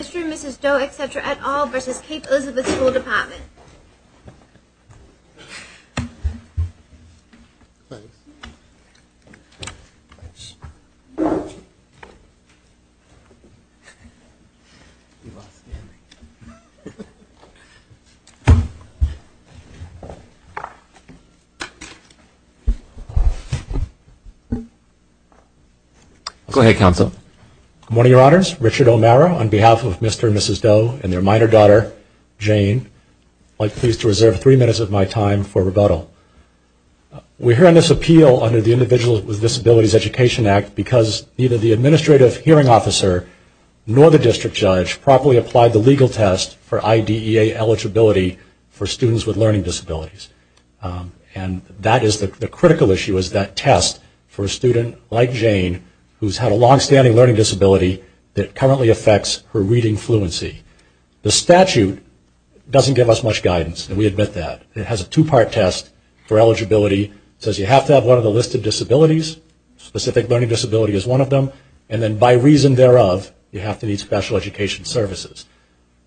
Mr. and Mrs. Doe, etc. et al. v. Cape Elizabeth School Department. Go ahead, Counsel. Good morning, Your Honors. Richard O'Mara on behalf of Mr. and Mrs. Doe and their minor daughter, Jane. I'm quite pleased to reserve three minutes of my time for rebuttal. We're hearing this appeal under the Individuals with Disabilities Education Act because neither the administrative hearing officer nor the district judge properly applied the legal test for IDEA eligibility for students with learning disabilities. And that is the critical issue, is that test for a student like Jane who's had a long-standing learning disability that currently affects her reading fluency. The statute doesn't give us much guidance, and we admit that. It has a two-part test for eligibility. It says you have to have one of the listed disabilities. A specific learning disability is one of them. And then by reason thereof, you have to need special education services.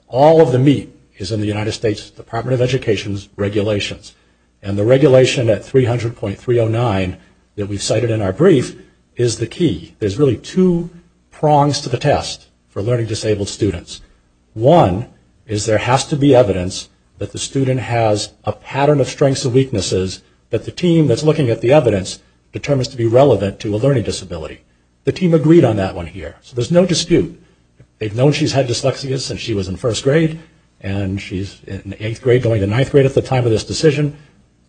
All of the meat is in the United States Department of Education's regulations. And the regulation at 300.309 that we've cited in our brief is the key. There's really two prongs to the test for learning disabled students. One is there has to be evidence that the student has a pattern of strengths and weaknesses that the team that's looking at the evidence determines to be relevant to a learning disability. The team agreed on that one here, so there's no dispute. They've known she's had dyslexia since she was in first grade, and she's in eighth grade going to ninth grade at the time of this decision.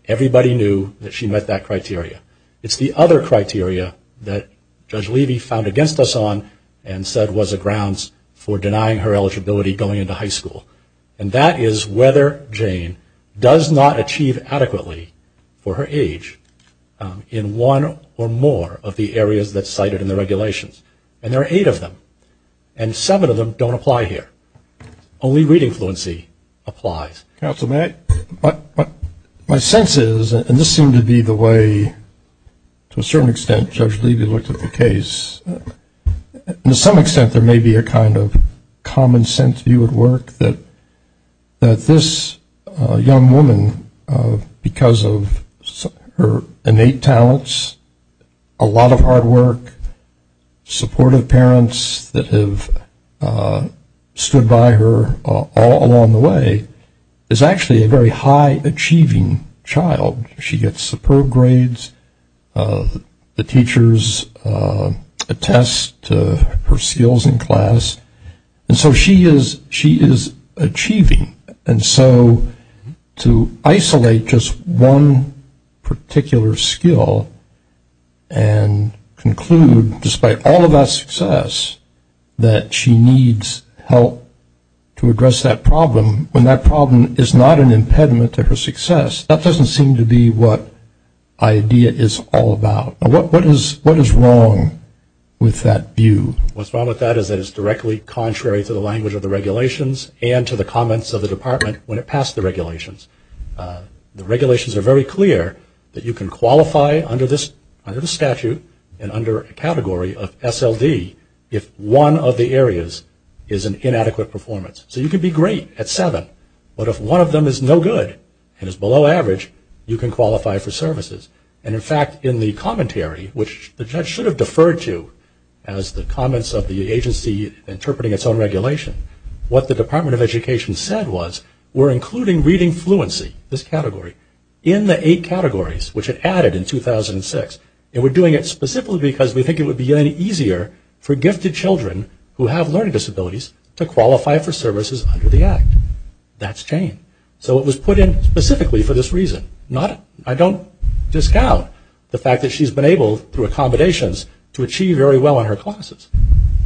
Everybody knew that she met that criteria. It's the other criteria that Judge Levy found against us on and said was a grounds for denying her eligibility going into high school, and that is whether Jane does not achieve adequately for her age in one or more of the areas that's cited in the regulations. And there are eight of them, and seven of them don't apply here. Only reading fluency applies. Counsel, may I? My sense is, and this seemed to be the way to a certain extent Judge Levy looked at the case, to some extent there may be a kind of common sense view at work that this young woman, because of her innate talents, a lot of hard work, supportive parents that have stood by her all along the way, is actually a very high-achieving child. She gets superb grades. The teachers attest to her skills in class. And so she is achieving. And so to isolate just one particular skill and conclude despite all of that success that she needs help to address that problem, when that problem is not an impediment to her success, that doesn't seem to be what IDEA is all about. What is wrong with that view? What's wrong with that is that it's directly contrary to the language of the regulations and to the comments of the department when it passed the regulations. The regulations are very clear that you can qualify under the statute and under a category of SLD if one of the areas is an inadequate performance. So you can be great at seven, but if one of them is no good and is below average, you can qualify for services. And, in fact, in the commentary, which the judge should have deferred to, as the comments of the agency interpreting its own regulation, what the Department of Education said was, we're including reading fluency, this category, in the eight categories, which it added in 2006. And we're doing it specifically because we think it would be easier for gifted children who have learning disabilities to qualify for services under the Act. That's changed. So it was put in specifically for this reason. I don't discount the fact that she's been able, through accommodations, to achieve very well in her classes.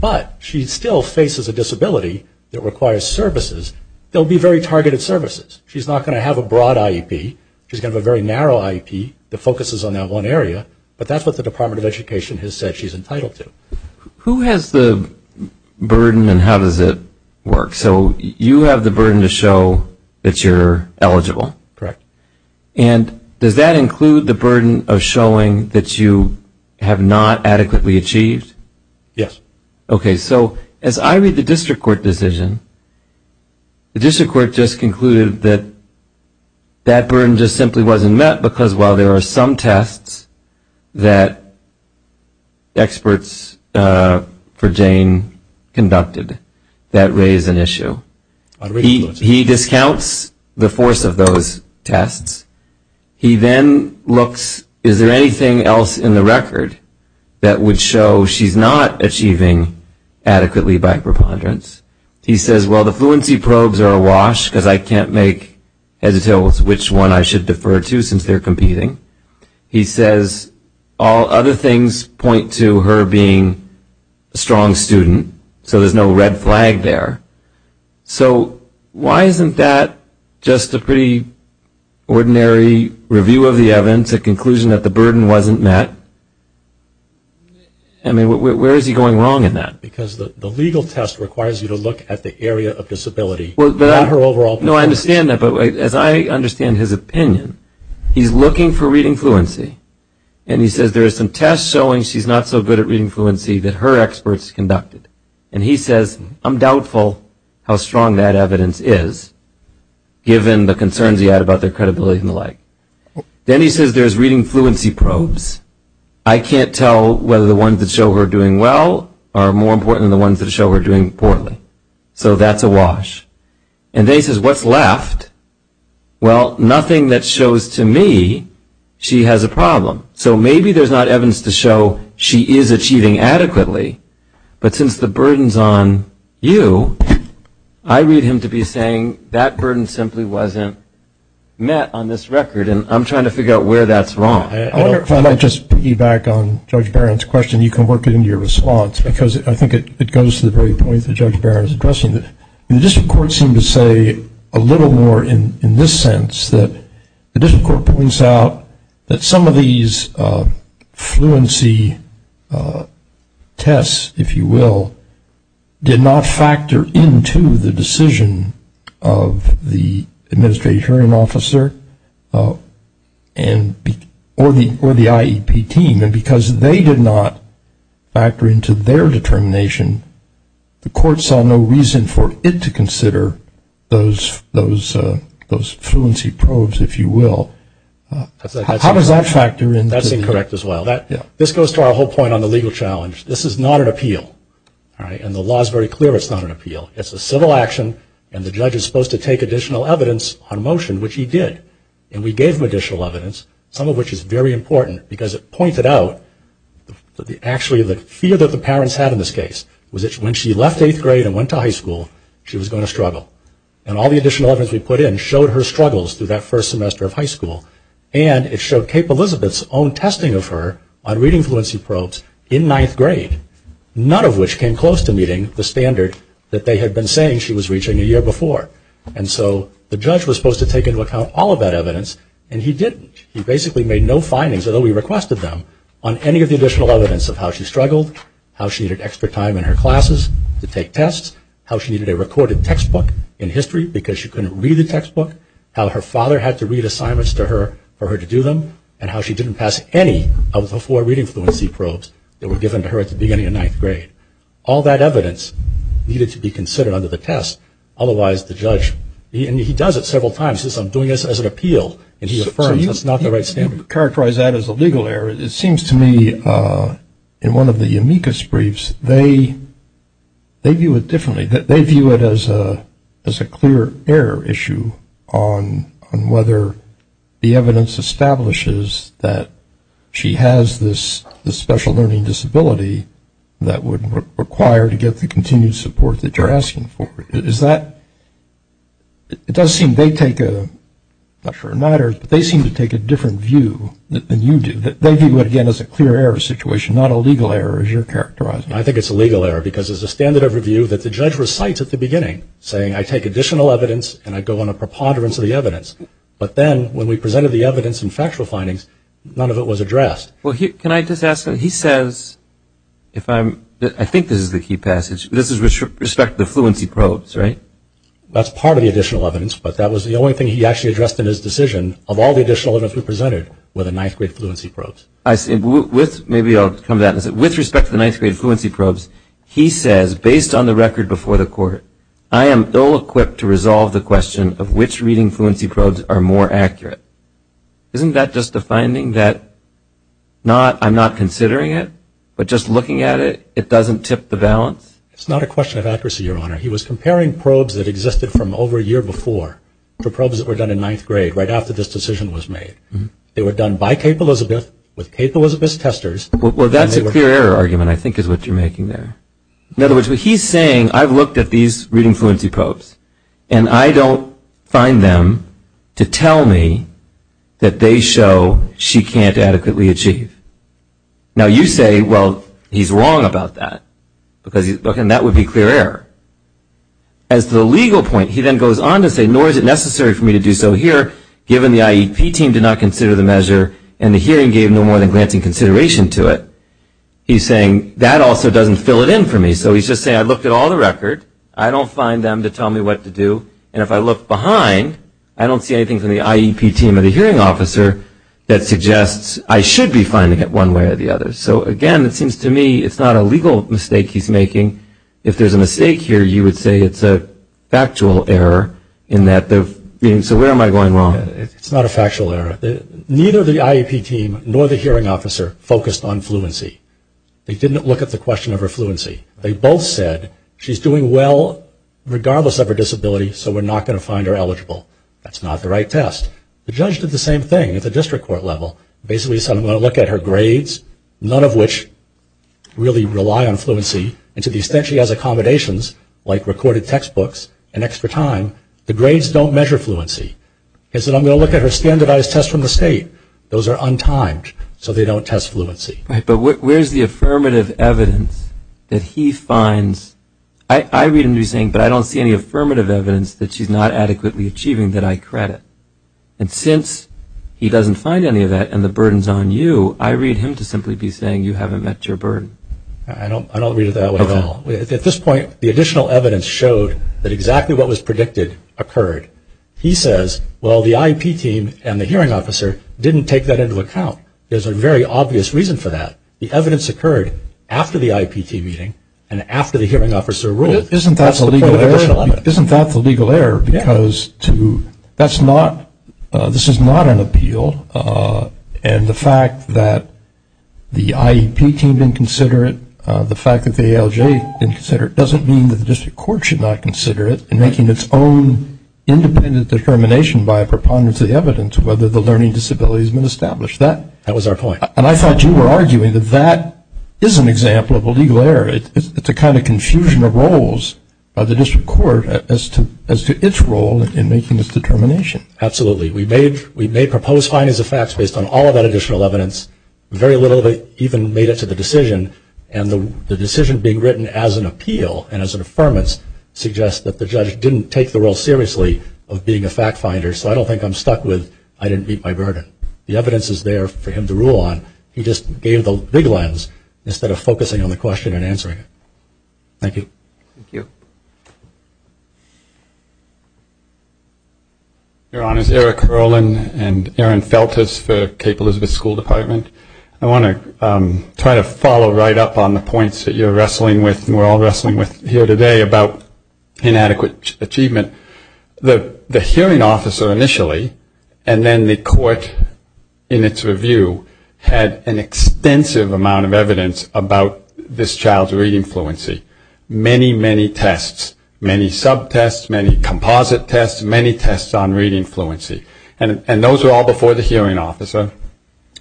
But she still faces a disability that requires services. They'll be very targeted services. She's not going to have a broad IEP. She's going to have a very narrow IEP that focuses on that one area. But that's what the Department of Education has said she's entitled to. Who has the burden and how does it work? So you have the burden to show that you're eligible. Correct. And does that include the burden of showing that you have not adequately achieved? Yes. Okay. So as I read the district court decision, the district court just concluded that that burden just simply wasn't met because, while there are some tests that experts for Jane conducted that raise an issue, he discounts the force of those tests. He then looks, is there anything else in the record that would show she's not achieving adequately by preponderance? He says, well, the fluency probes are awash because I can't make heads or tails which one I should defer to since they're competing. He says, all other things point to her being a strong student, so there's no red flag there. So why isn't that just a pretty ordinary review of the evidence, a conclusion that the burden wasn't met? I mean, where is he going wrong in that? Because the legal test requires you to look at the area of disability, not her overall performance. No, I understand that. But as I understand his opinion, he's looking for reading fluency, and he says there are some tests showing she's not so good at reading fluency that her experts conducted. And he says, I'm doubtful how strong that evidence is, given the concerns he had about their credibility and the like. Then he says there's reading fluency probes. I can't tell whether the ones that show her doing well are more important than the ones that show her doing poorly. So that's awash. And then he says, what's left? Well, nothing that shows to me she has a problem. So maybe there's not evidence to show she is achieving adequately, but since the burden is on you, I read him to be saying that burden simply wasn't met on this record, and I'm trying to figure out where that's wrong. I wonder if I might just piggyback on Judge Barron's question. You can work it into your response, because I think it goes to the very point that Judge Barron is addressing. The district courts seem to say a little more in this sense, that the district court points out that some of these fluency tests, if you will, did not factor into the decision of the administrative hearing officer or the IEP team. And because they did not factor into their determination, the court saw no reason for it to consider those fluency probes, if you will. How does that factor in? That's incorrect as well. This goes to our whole point on the legal challenge. This is not an appeal. And the law is very clear it's not an appeal. It's a civil action, and the judge is supposed to take additional evidence on motion, which he did. And we gave him additional evidence, some of which is very important, because it pointed out that actually the fear that the parents had in this case was that when she left eighth grade and went to high school, she was going to struggle. And all the additional evidence we put in showed her struggles through that first semester of high school. And it showed Cape Elizabeth's own testing of her on reading fluency probes in ninth grade, none of which came close to meeting the standard that they had been saying she was reaching a year before. And so the judge was supposed to take into account all of that evidence, and he didn't. He basically made no findings, although he requested them, on any of the additional evidence of how she struggled, how she needed extra time in her classes to take tests, how she needed a recorded textbook in history because she couldn't read the textbook, how her father had to read assignments to her for her to do them, and how she didn't pass any of the four reading fluency probes that were given to her at the beginning of ninth grade. All that evidence needed to be considered under the test, otherwise the judge, and he does it several times, and he affirms that's not the right standard. So you characterize that as a legal error. It seems to me in one of the amicus briefs they view it differently. They view it as a clear error issue on whether the evidence establishes that she has this special learning disability that would require to get the continued support that you're asking for. It does seem they take a, not for a matter, but they seem to take a different view than you do. They view it, again, as a clear error situation, not a legal error as you're characterizing it. I think it's a legal error because it's a standard of review that the judge recites at the beginning saying I take additional evidence and I go on a preponderance of the evidence. But then when we presented the evidence and factual findings, none of it was addressed. Well, can I just ask him, he says. I think this is the key passage. This is with respect to the fluency probes, right? That's part of the additional evidence, but that was the only thing he actually addressed in his decision of all the additional evidence we presented were the ninth-grade fluency probes. I see. Maybe I'll come to that. With respect to the ninth-grade fluency probes, he says based on the record before the court, I am ill-equipped to resolve the question of which reading fluency probes are more accurate. Isn't that just a finding that I'm not considering it, but just looking at it, it doesn't tip the balance? It's not a question of accuracy, Your Honor. He was comparing probes that existed from over a year before to probes that were done in ninth grade right after this decision was made. They were done by Kate Elizabeth with Kate Elizabeth's testers. Well, that's a clear error argument I think is what you're making there. In other words, what he's saying, I've looked at these reading fluency probes and I don't find them to tell me that they show she can't adequately achieve. Now you say, well, he's wrong about that, and that would be clear error. As to the legal point, he then goes on to say, nor is it necessary for me to do so here given the IEP team did not consider the measure and the hearing gave no more than glancing consideration to it. He's saying that also doesn't fill it in for me. So he's just saying I looked at all the record, I don't find them to tell me what to do, and if I look behind, I don't see anything from the IEP team or the hearing officer that suggests I should be finding it one way or the other. So, again, it seems to me it's not a legal mistake he's making. If there's a mistake here, you would say it's a factual error in that they're being, so where am I going wrong? It's not a factual error. Neither the IEP team nor the hearing officer focused on fluency. They didn't look at the question of her fluency. They both said she's doing well regardless of her disability, so we're not going to find her eligible. That's not the right test. The judge did the same thing at the district court level. Basically said I'm going to look at her grades, none of which really rely on fluency, and to the extent she has accommodations like recorded textbooks and extra time, the grades don't measure fluency. He said I'm going to look at her standardized tests from the state. Those are untimed, so they don't test fluency. Right, but where's the affirmative evidence that he finds? I read him saying but I don't see any affirmative evidence that she's not adequately achieving that I credit. And since he doesn't find any of that and the burden's on you, I read him to simply be saying you haven't met your burden. I don't read it that way at all. At this point, the additional evidence showed that exactly what was predicted occurred. He says, well, the IEP team and the hearing officer didn't take that into account. There's a very obvious reason for that. The evidence occurred after the IEP team meeting and after the hearing officer ruled. Isn't that the legal error? Because this is not an appeal, and the fact that the IEP team didn't consider it, the fact that the ALJ didn't consider it doesn't mean that the district court should not consider it in making its own independent determination by a preponderance of the evidence whether the learning disability has been established. That was our point. And I thought you were arguing that that is an example of a legal error. It's a kind of confusion of roles of the district court as to its role in making this determination. Absolutely. We made proposed findings of facts based on all of that additional evidence. Very little of it even made it to the decision, and the decision being written as an appeal and as an affirmance suggests that the judge didn't take the role seriously of being a fact finder, so I don't think I'm stuck with I didn't meet my burden. The evidence is there for him to rule on. He just gave the big lens instead of focusing on the question and answering it. Thank you. Thank you. Your Honors, Eric Erlin and Aaron Feltes for Cape Elizabeth School Department. I want to try to follow right up on the points that you're wrestling with and we're all wrestling with here today about inadequate achievement. The hearing officer initially, and then the court in its review, had an extensive amount of evidence about this child's reading fluency. Many, many tests, many sub-tests, many composite tests, many tests on reading fluency. And those were all before the hearing officer.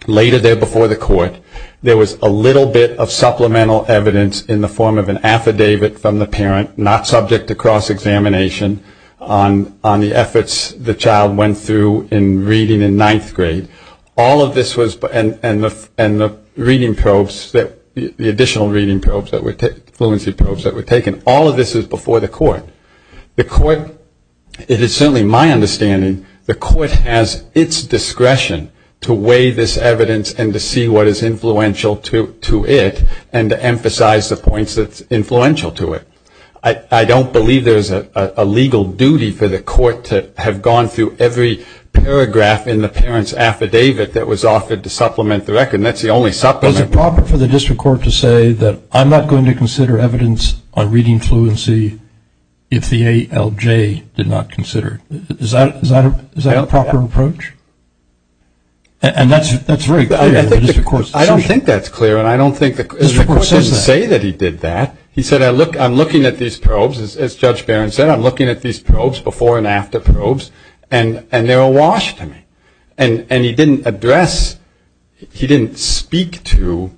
Later there before the court, there was a little bit of supplemental evidence in the form of an affidavit from the parent, not subject to cross-examination, on the efforts the child went through in reading in ninth grade. All of this was, and the reading probes, the additional reading probes, fluency probes that were taken, all of this was before the court. The court, it is certainly my understanding, the court has its discretion to weigh this evidence and to see what is influential to it and to emphasize the points that's influential to it. I don't believe there's a legal duty for the court to have gone through every paragraph in the parent's affidavit that was offered to supplement the record, and that's the only supplement. Is it proper for the district court to say that I'm not going to consider evidence on reading fluency if the ALJ did not consider it? Is that a proper approach? And that's very clear. I don't think that's clear, and I don't think the court doesn't say that he did that. He said, I'm looking at these probes, as Judge Barron said, I'm looking at these probes, before and after probes, and they're awash to me. And he didn't address, he didn't speak to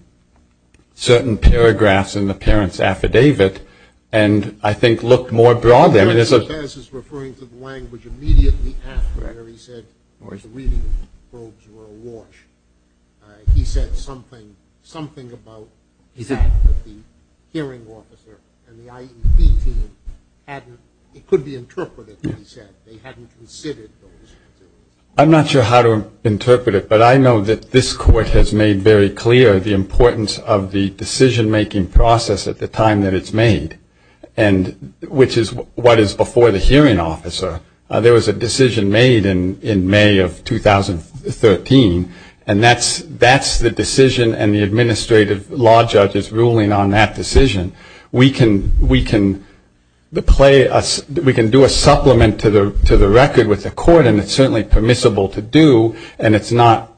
certain paragraphs in the parent's affidavit and I think looked more broadly. I think he was referring to the language immediately after he said the reading probes were awash. He said something about the hearing officer and the IEP team hadn't, it could be interpreted that he said they hadn't considered those. I'm not sure how to interpret it, but I know that this court has made very clear the importance of the decision-making process at the time that it's made, which is what is before the hearing officer. There was a decision made in May of 2013, and that's the decision and the administrative law judge's ruling on that decision. We can do a supplement to the record with the court, and it's certainly permissible to do, and it's not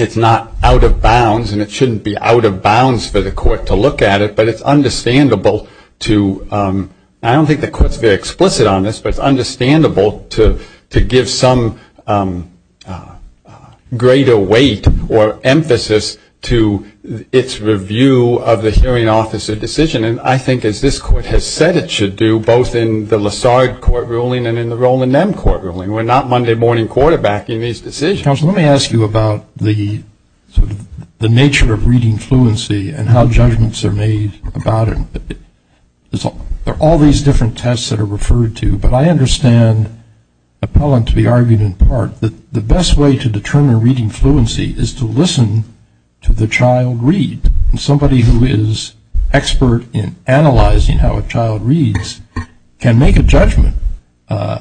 out of bounds, and it shouldn't be out of bounds for the court to look at it, but it's understandable to, I don't think the court's very explicit on this, but it's understandable to give some greater weight or emphasis to its review of the hearing officer decision. And I think as this court has said it should do, both in the Lessard court ruling and in the Roland Nemb court ruling, we're not Monday morning quarterbacking these decisions. Counsel, let me ask you about the nature of reading fluency and how judgments are made about it. There are all these different tests that are referred to, but I understand Appellant to be arguing in part that the best way to determine reading fluency is to listen to the child read. And somebody who is expert in analyzing how a child reads can make a judgment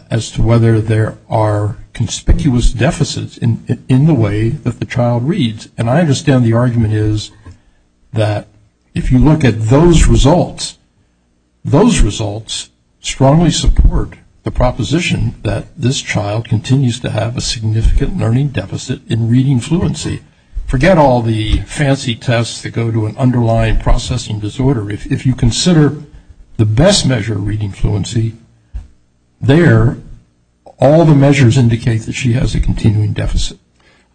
as to whether there are in the way that the child reads. And I understand the argument is that if you look at those results, those results strongly support the proposition that this child continues to have a significant learning deficit in reading fluency. Forget all the fancy tests that go to an underlying processing disorder. If you consider the best measure of reading fluency there, all the measures indicate that she has a continuing deficit.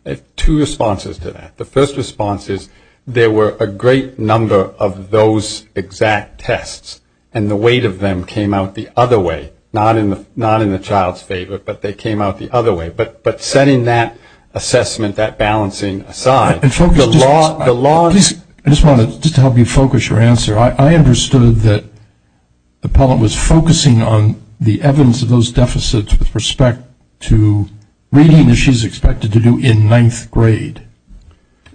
I have two responses to that. The first response is there were a great number of those exact tests, and the weight of them came out the other way, not in the child's favor, but they came out the other way. But setting that assessment, that balancing aside, the law of the law. I just wanted to help you focus your answer. I understood that Appellant was focusing on the evidence of those deficits with respect to reading that she's expected to do in ninth grade.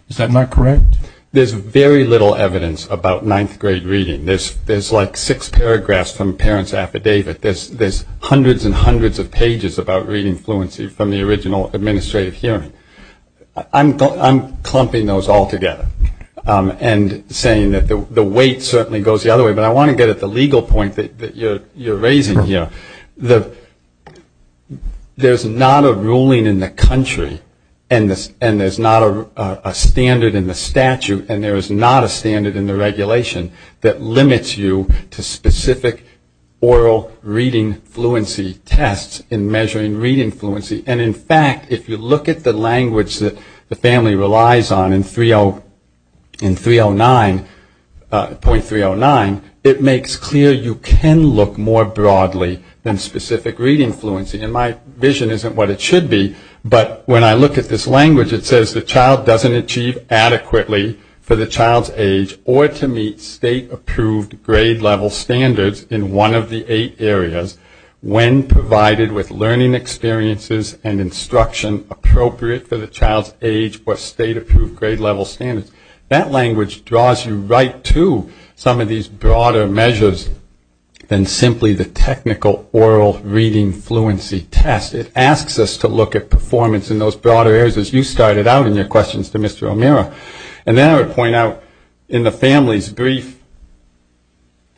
Is that not correct? There's very little evidence about ninth grade reading. There's like six paragraphs from a parent's affidavit. There's hundreds and hundreds of pages about reading fluency from the original administrative hearing. I'm clumping those all together and saying that the weight certainly goes the other way, but I want to get at the legal point that you're raising here. There's not a ruling in the country, and there's not a standard in the statute, and there is not a standard in the regulation that limits you to specific oral reading fluency tests in measuring reading fluency. And, in fact, if you look at the language that the family relies on in .309, it makes clear you can look more broadly than specific reading fluency. And my vision isn't what it should be, but when I look at this language, it says the child doesn't achieve adequately for the child's age or to meet state-approved grade-level standards in one of the eight areas when provided with learning experiences and instruction appropriate for the child's age or state-approved grade-level standards. That language draws you right to some of these broader measures than simply the technical oral reading fluency test. It asks us to look at performance in those broader areas, as you started out in your questions to Mr. O'Meara. And then I would point out in the family's brief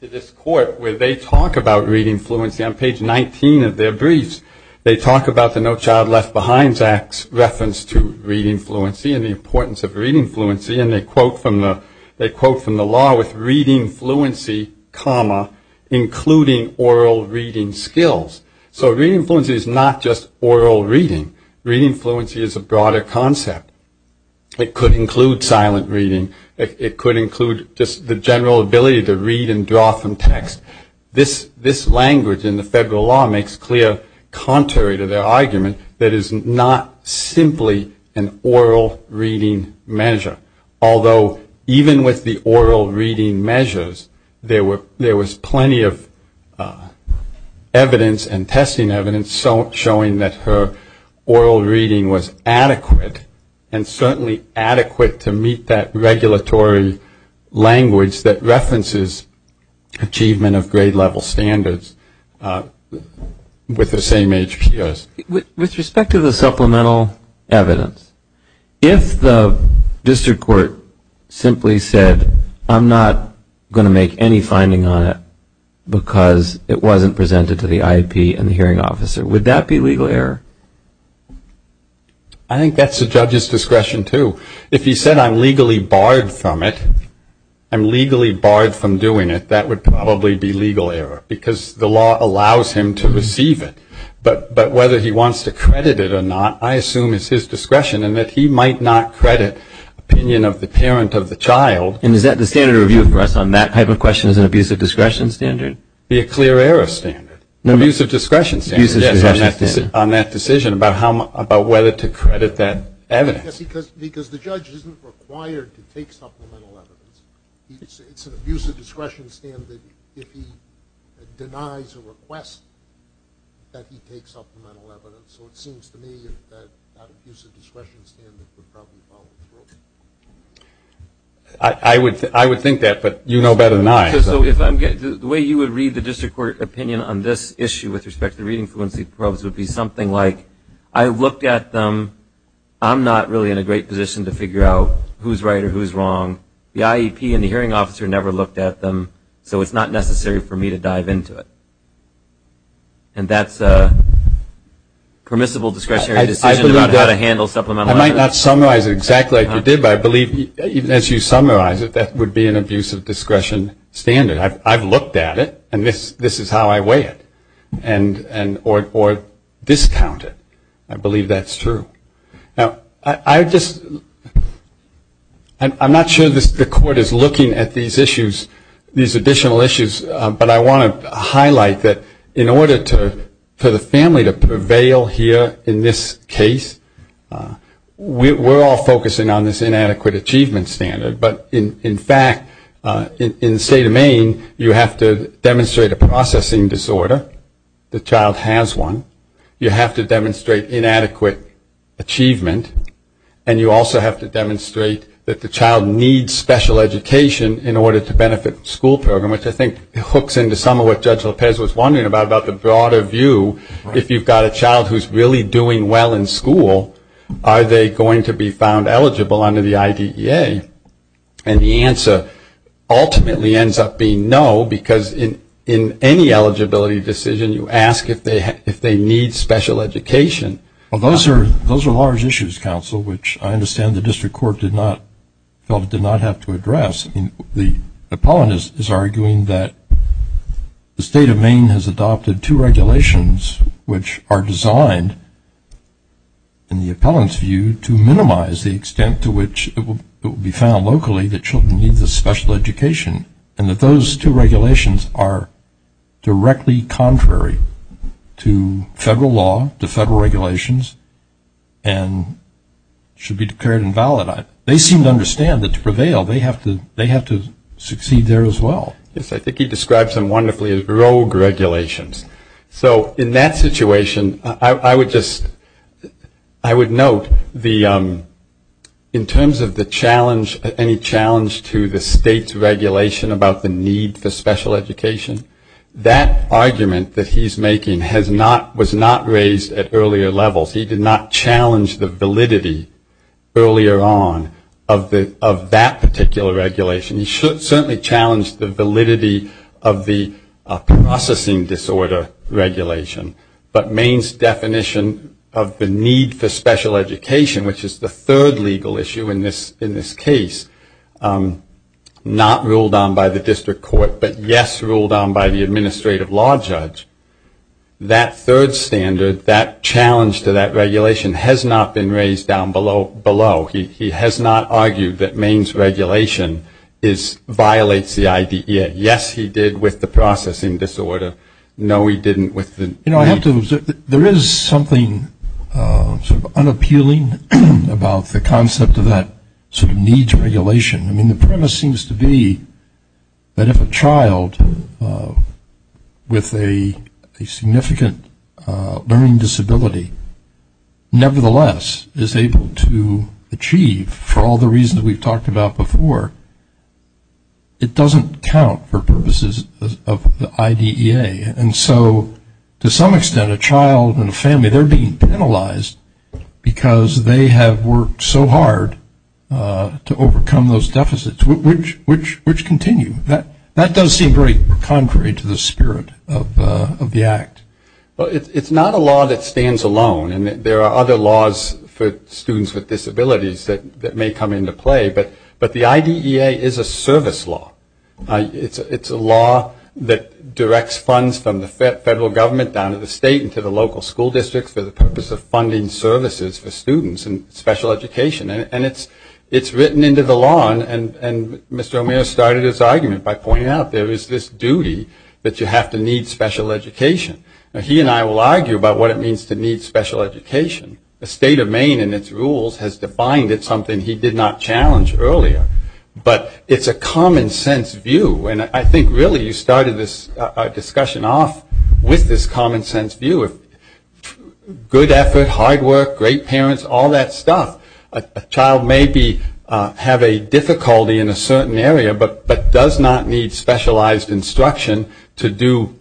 to this court, where they talk about reading fluency on page 19 of their briefs. They talk about the No Child Left Behind Act's reference to reading fluency and the importance of reading fluency, and they quote from the law with reading fluency, including oral reading skills. So reading fluency is not just oral reading. Reading fluency is a broader concept. It could include silent reading. It could include just the general ability to read and draw from text. This language in the federal law makes clear contrary to their argument that it is not simply an oral reading measure, although even with the oral reading measures, there was plenty of evidence and testing evidence showing that her oral reading was adequate and certainly adequate to meet that regulatory language that references achievement of grade level standards with the same HPOs. With respect to the supplemental evidence, if the district court simply said, I'm not going to make any finding on it because it wasn't presented to the IEP and the hearing officer, would that be legal error? I think that's the judge's discretion, too. If he said, I'm legally barred from it, I'm legally barred from doing it, that would probably be legal error because the law allows him to receive it. But whether he wants to credit it or not, I assume it's his discretion in that he might not credit opinion of the parent of the child. And is that the standard of review for us on that type of question is an abusive discretion standard? It would be a clear error standard, an abusive discretion standard. Yes, on that decision about whether to credit that evidence. Because the judge isn't required to take supplemental evidence. It's an abusive discretion standard if he denies a request that he take supplemental evidence. So it seems to me that that abusive discretion standard would probably fall through. I would think that, but you know better than I. The way you would read the district court opinion on this issue with respect to the reading fluency probes would be something like, I looked at them. I'm not really in a great position to figure out who's right or who's wrong. The IEP and the hearing officer never looked at them, so it's not necessary for me to dive into it. And that's a permissible discretionary decision about how to handle supplemental evidence. I might not summarize it exactly like you did, but I believe even as you summarize it, that would be an abusive discretion standard. I've looked at it, and this is how I weigh it or discount it. I believe that's true. Now, I'm not sure the court is looking at these additional issues, but I want to highlight that in order for the family to prevail here in this case, we're all focusing on this inadequate achievement standard. But in fact, in the state of Maine, you have to demonstrate a processing disorder. The child has one. You have to demonstrate inadequate achievement, and you also have to demonstrate that the child needs special education in order to benefit the school program, which I think hooks into some of what Judge Lopez was wondering about, about the broader view. If you've got a child who's really doing well in school, are they going to be found eligible under the IDEA? And the answer ultimately ends up being no, because in any eligibility decision, you ask if they need special education. Well, those are large issues, counsel, which I understand the district court felt it did not have to address. I mean, the appellant is arguing that the state of Maine has adopted two regulations, which are designed in the appellant's view to minimize the extent to which it will be found locally that children need the special education, and that those two regulations are directly contrary to federal law, to federal regulations, and should be declared invalid. They seem to understand that to prevail, they have to succeed there as well. Yes, I think he described them wonderfully as rogue regulations. So in that situation, I would note in terms of the challenge, any challenge to the state's regulation about the need for special education, that argument that he's making was not raised at earlier levels. He did not challenge the validity earlier on of that particular regulation. He certainly challenged the validity of the processing disorder regulation. But Maine's definition of the need for special education, which is the third legal issue in this case, not ruled on by the district court, but, yes, ruled on by the administrative law judge, that third standard, that challenge to that regulation, has not been raised down below. He has not argued that Maine's regulation violates the IDEA. Yes, he did with the processing disorder. No, he didn't with the... You know, there is something sort of unappealing about the concept of that sort of needs regulation. I mean, the premise seems to be that if a child with a significant learning disability, nevertheless is able to achieve for all the reasons we've talked about before, it doesn't count for purposes of the IDEA. And so to some extent, a child and a family, they're being penalized because they have worked so hard to overcome those deficits, which continue. That does seem very contrary to the spirit of the Act. Well, it's not a law that stands alone. And there are other laws for students with disabilities that may come into play. But the IDEA is a service law. It's a law that directs funds from the federal government down to the state and to the local school districts for the purpose of funding services for students in special education. And it's written into the law. And Mr. O'Meara started his argument by pointing out there is this duty that you have to need special education. Now, he and I will argue about what it means to need special education. The state of Maine and its rules has defined it, something he did not challenge earlier. But it's a common-sense view. And I think, really, you started this discussion off with this common-sense view. Good effort, hard work, great parents, all that stuff. A child may have a difficulty in a certain area but does not need specialized instruction to do,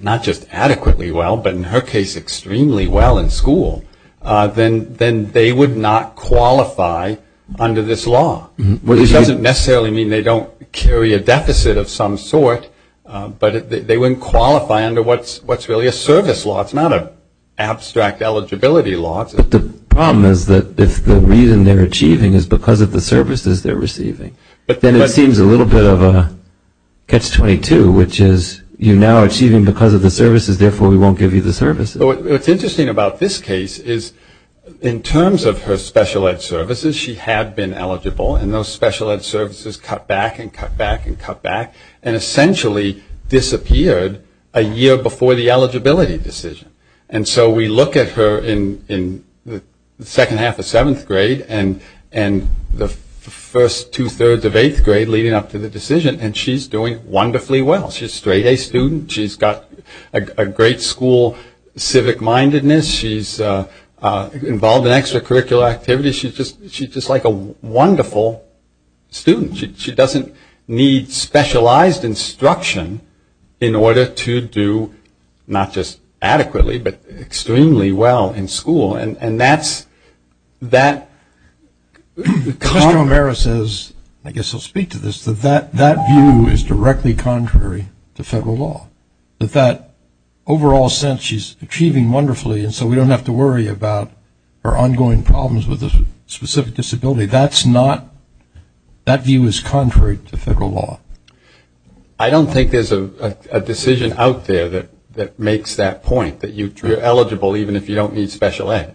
not just adequately well, but in her case, extremely well in school, then they would not qualify under this law. Which doesn't necessarily mean they don't carry a deficit of some sort, but they wouldn't qualify under what's really a service law. It's not an abstract eligibility law. But the problem is that if the reason they're achieving is because of the services they're receiving, then it seems a little bit of a catch-22, which is you're now achieving because of the services, therefore we won't give you the services. What's interesting about this case is in terms of her special ed services, she had been eligible. And those special ed services cut back and cut back and cut back. And essentially disappeared a year before the eligibility decision. And so we look at her in the second half of seventh grade and the first two-thirds of eighth grade leading up to the decision, and she's doing wonderfully well. She's a straight-A student. She's got a great school civic-mindedness. She's involved in extracurricular activities. She's just like a wonderful student. She doesn't need specialized instruction in order to do, not just adequately, but extremely well in school. And that's that. Mr. O'Mara says, I guess he'll speak to this, that that view is directly contrary to federal law, that that overall sense she's achieving wonderfully and so we don't have to worry about her ongoing problems with a specific disability. That's not, that view is contrary to federal law. I don't think there's a decision out there that makes that point, that you're eligible even if you don't need special ed.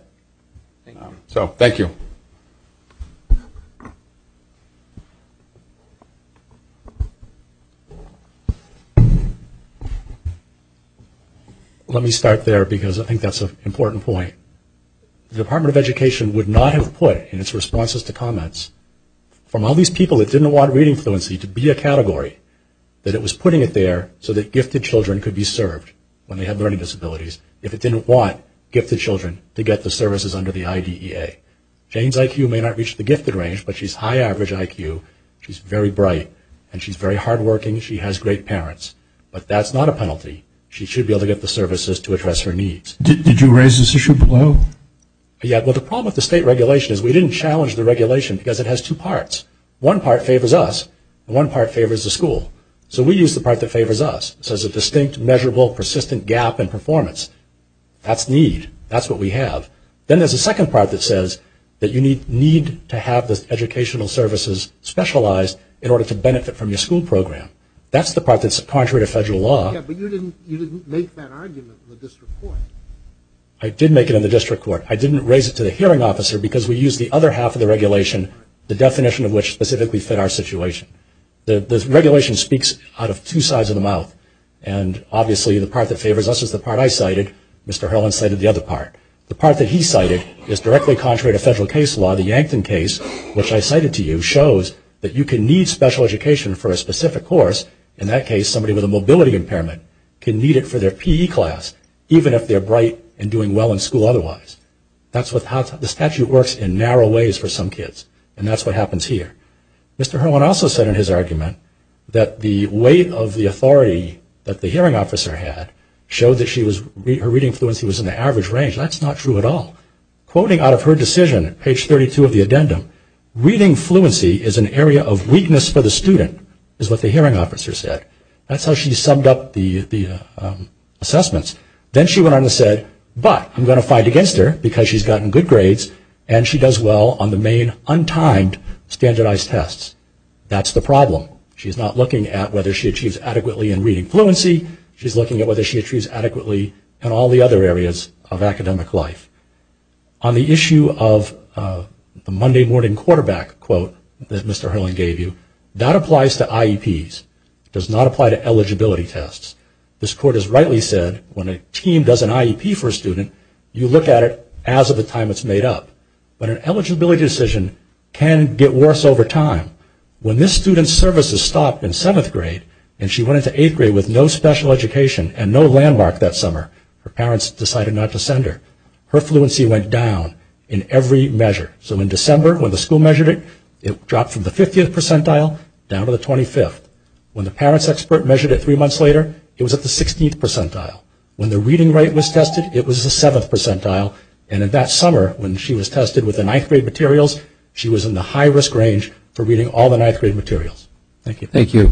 So thank you. Let me start there because I think that's an important point. The Department of Education would not have put in its responses to comments, from all these people that didn't want reading fluency to be a category, that it was putting it there so that gifted children could be served when they had learning disabilities if it didn't want gifted children to get the services under the IDEA. Jane's IQ may not reach the gifted range, but she's high average IQ. She's very bright, and she's very hardworking. She has great parents. But that's not a penalty. She should be able to get the services to address her needs. Did you raise this issue below? Yeah. Well, the problem with the state regulation is we didn't challenge the regulation because it has two parts. One part favors us, and one part favors the school. So we use the part that favors us. It says a distinct, measurable, persistent gap in performance. That's need. That's what we have. Then there's a second part that says that you need to have the educational services specialized in order to benefit from your school program. That's the part that's contrary to federal law. Yeah, but you didn't make that argument in the district court. I did make it in the district court. I didn't raise it to the hearing officer because we used the other half of the regulation, the definition of which specifically fit our situation. The regulation speaks out of two sides of the mouth, and obviously the part that favors us is the part I cited. Mr. Harlan cited the other part. The part that he cited is directly contrary to federal case law. The Yankton case, which I cited to you, shows that you can need special education for a specific course, in that case somebody with a mobility impairment can need it for their PE class, even if they're bright and doing well in school otherwise. The statute works in narrow ways for some kids, and that's what happens here. Mr. Harlan also said in his argument that the weight of the authority that the hearing officer had showed that her reading fluency was in the average range. That's not true at all. Quoting out of her decision at page 32 of the addendum, reading fluency is an area of weakness for the student, is what the hearing officer said. That's how she summed up the assessments. Then she went on and said, but I'm going to fight against her because she's gotten good grades and she does well on the main untimed standardized tests. That's the problem. She's not looking at whether she achieves adequately in reading fluency. She's looking at whether she achieves adequately in all the other areas of academic life. On the issue of the Monday morning quarterback quote that Mr. Harlan gave you, that applies to IEPs. It does not apply to eligibility tests. This court has rightly said when a team does an IEP for a student, you look at it as of the time it's made up. But an eligibility decision can get worse over time. When this student's service is stopped in seventh grade and she went into eighth grade with no special education and no landmark that summer, her parents decided not to send her. Her fluency went down in every measure. So in December when the school measured it, it dropped from the 50th percentile down to the 25th. When the parents expert measured it three months later, it was at the 16th percentile. When the reading rate was tested, it was the 7th percentile. And in that summer when she was tested with the ninth grade materials, she was in the high risk range for reading all the ninth grade materials. Thank you. Thank you.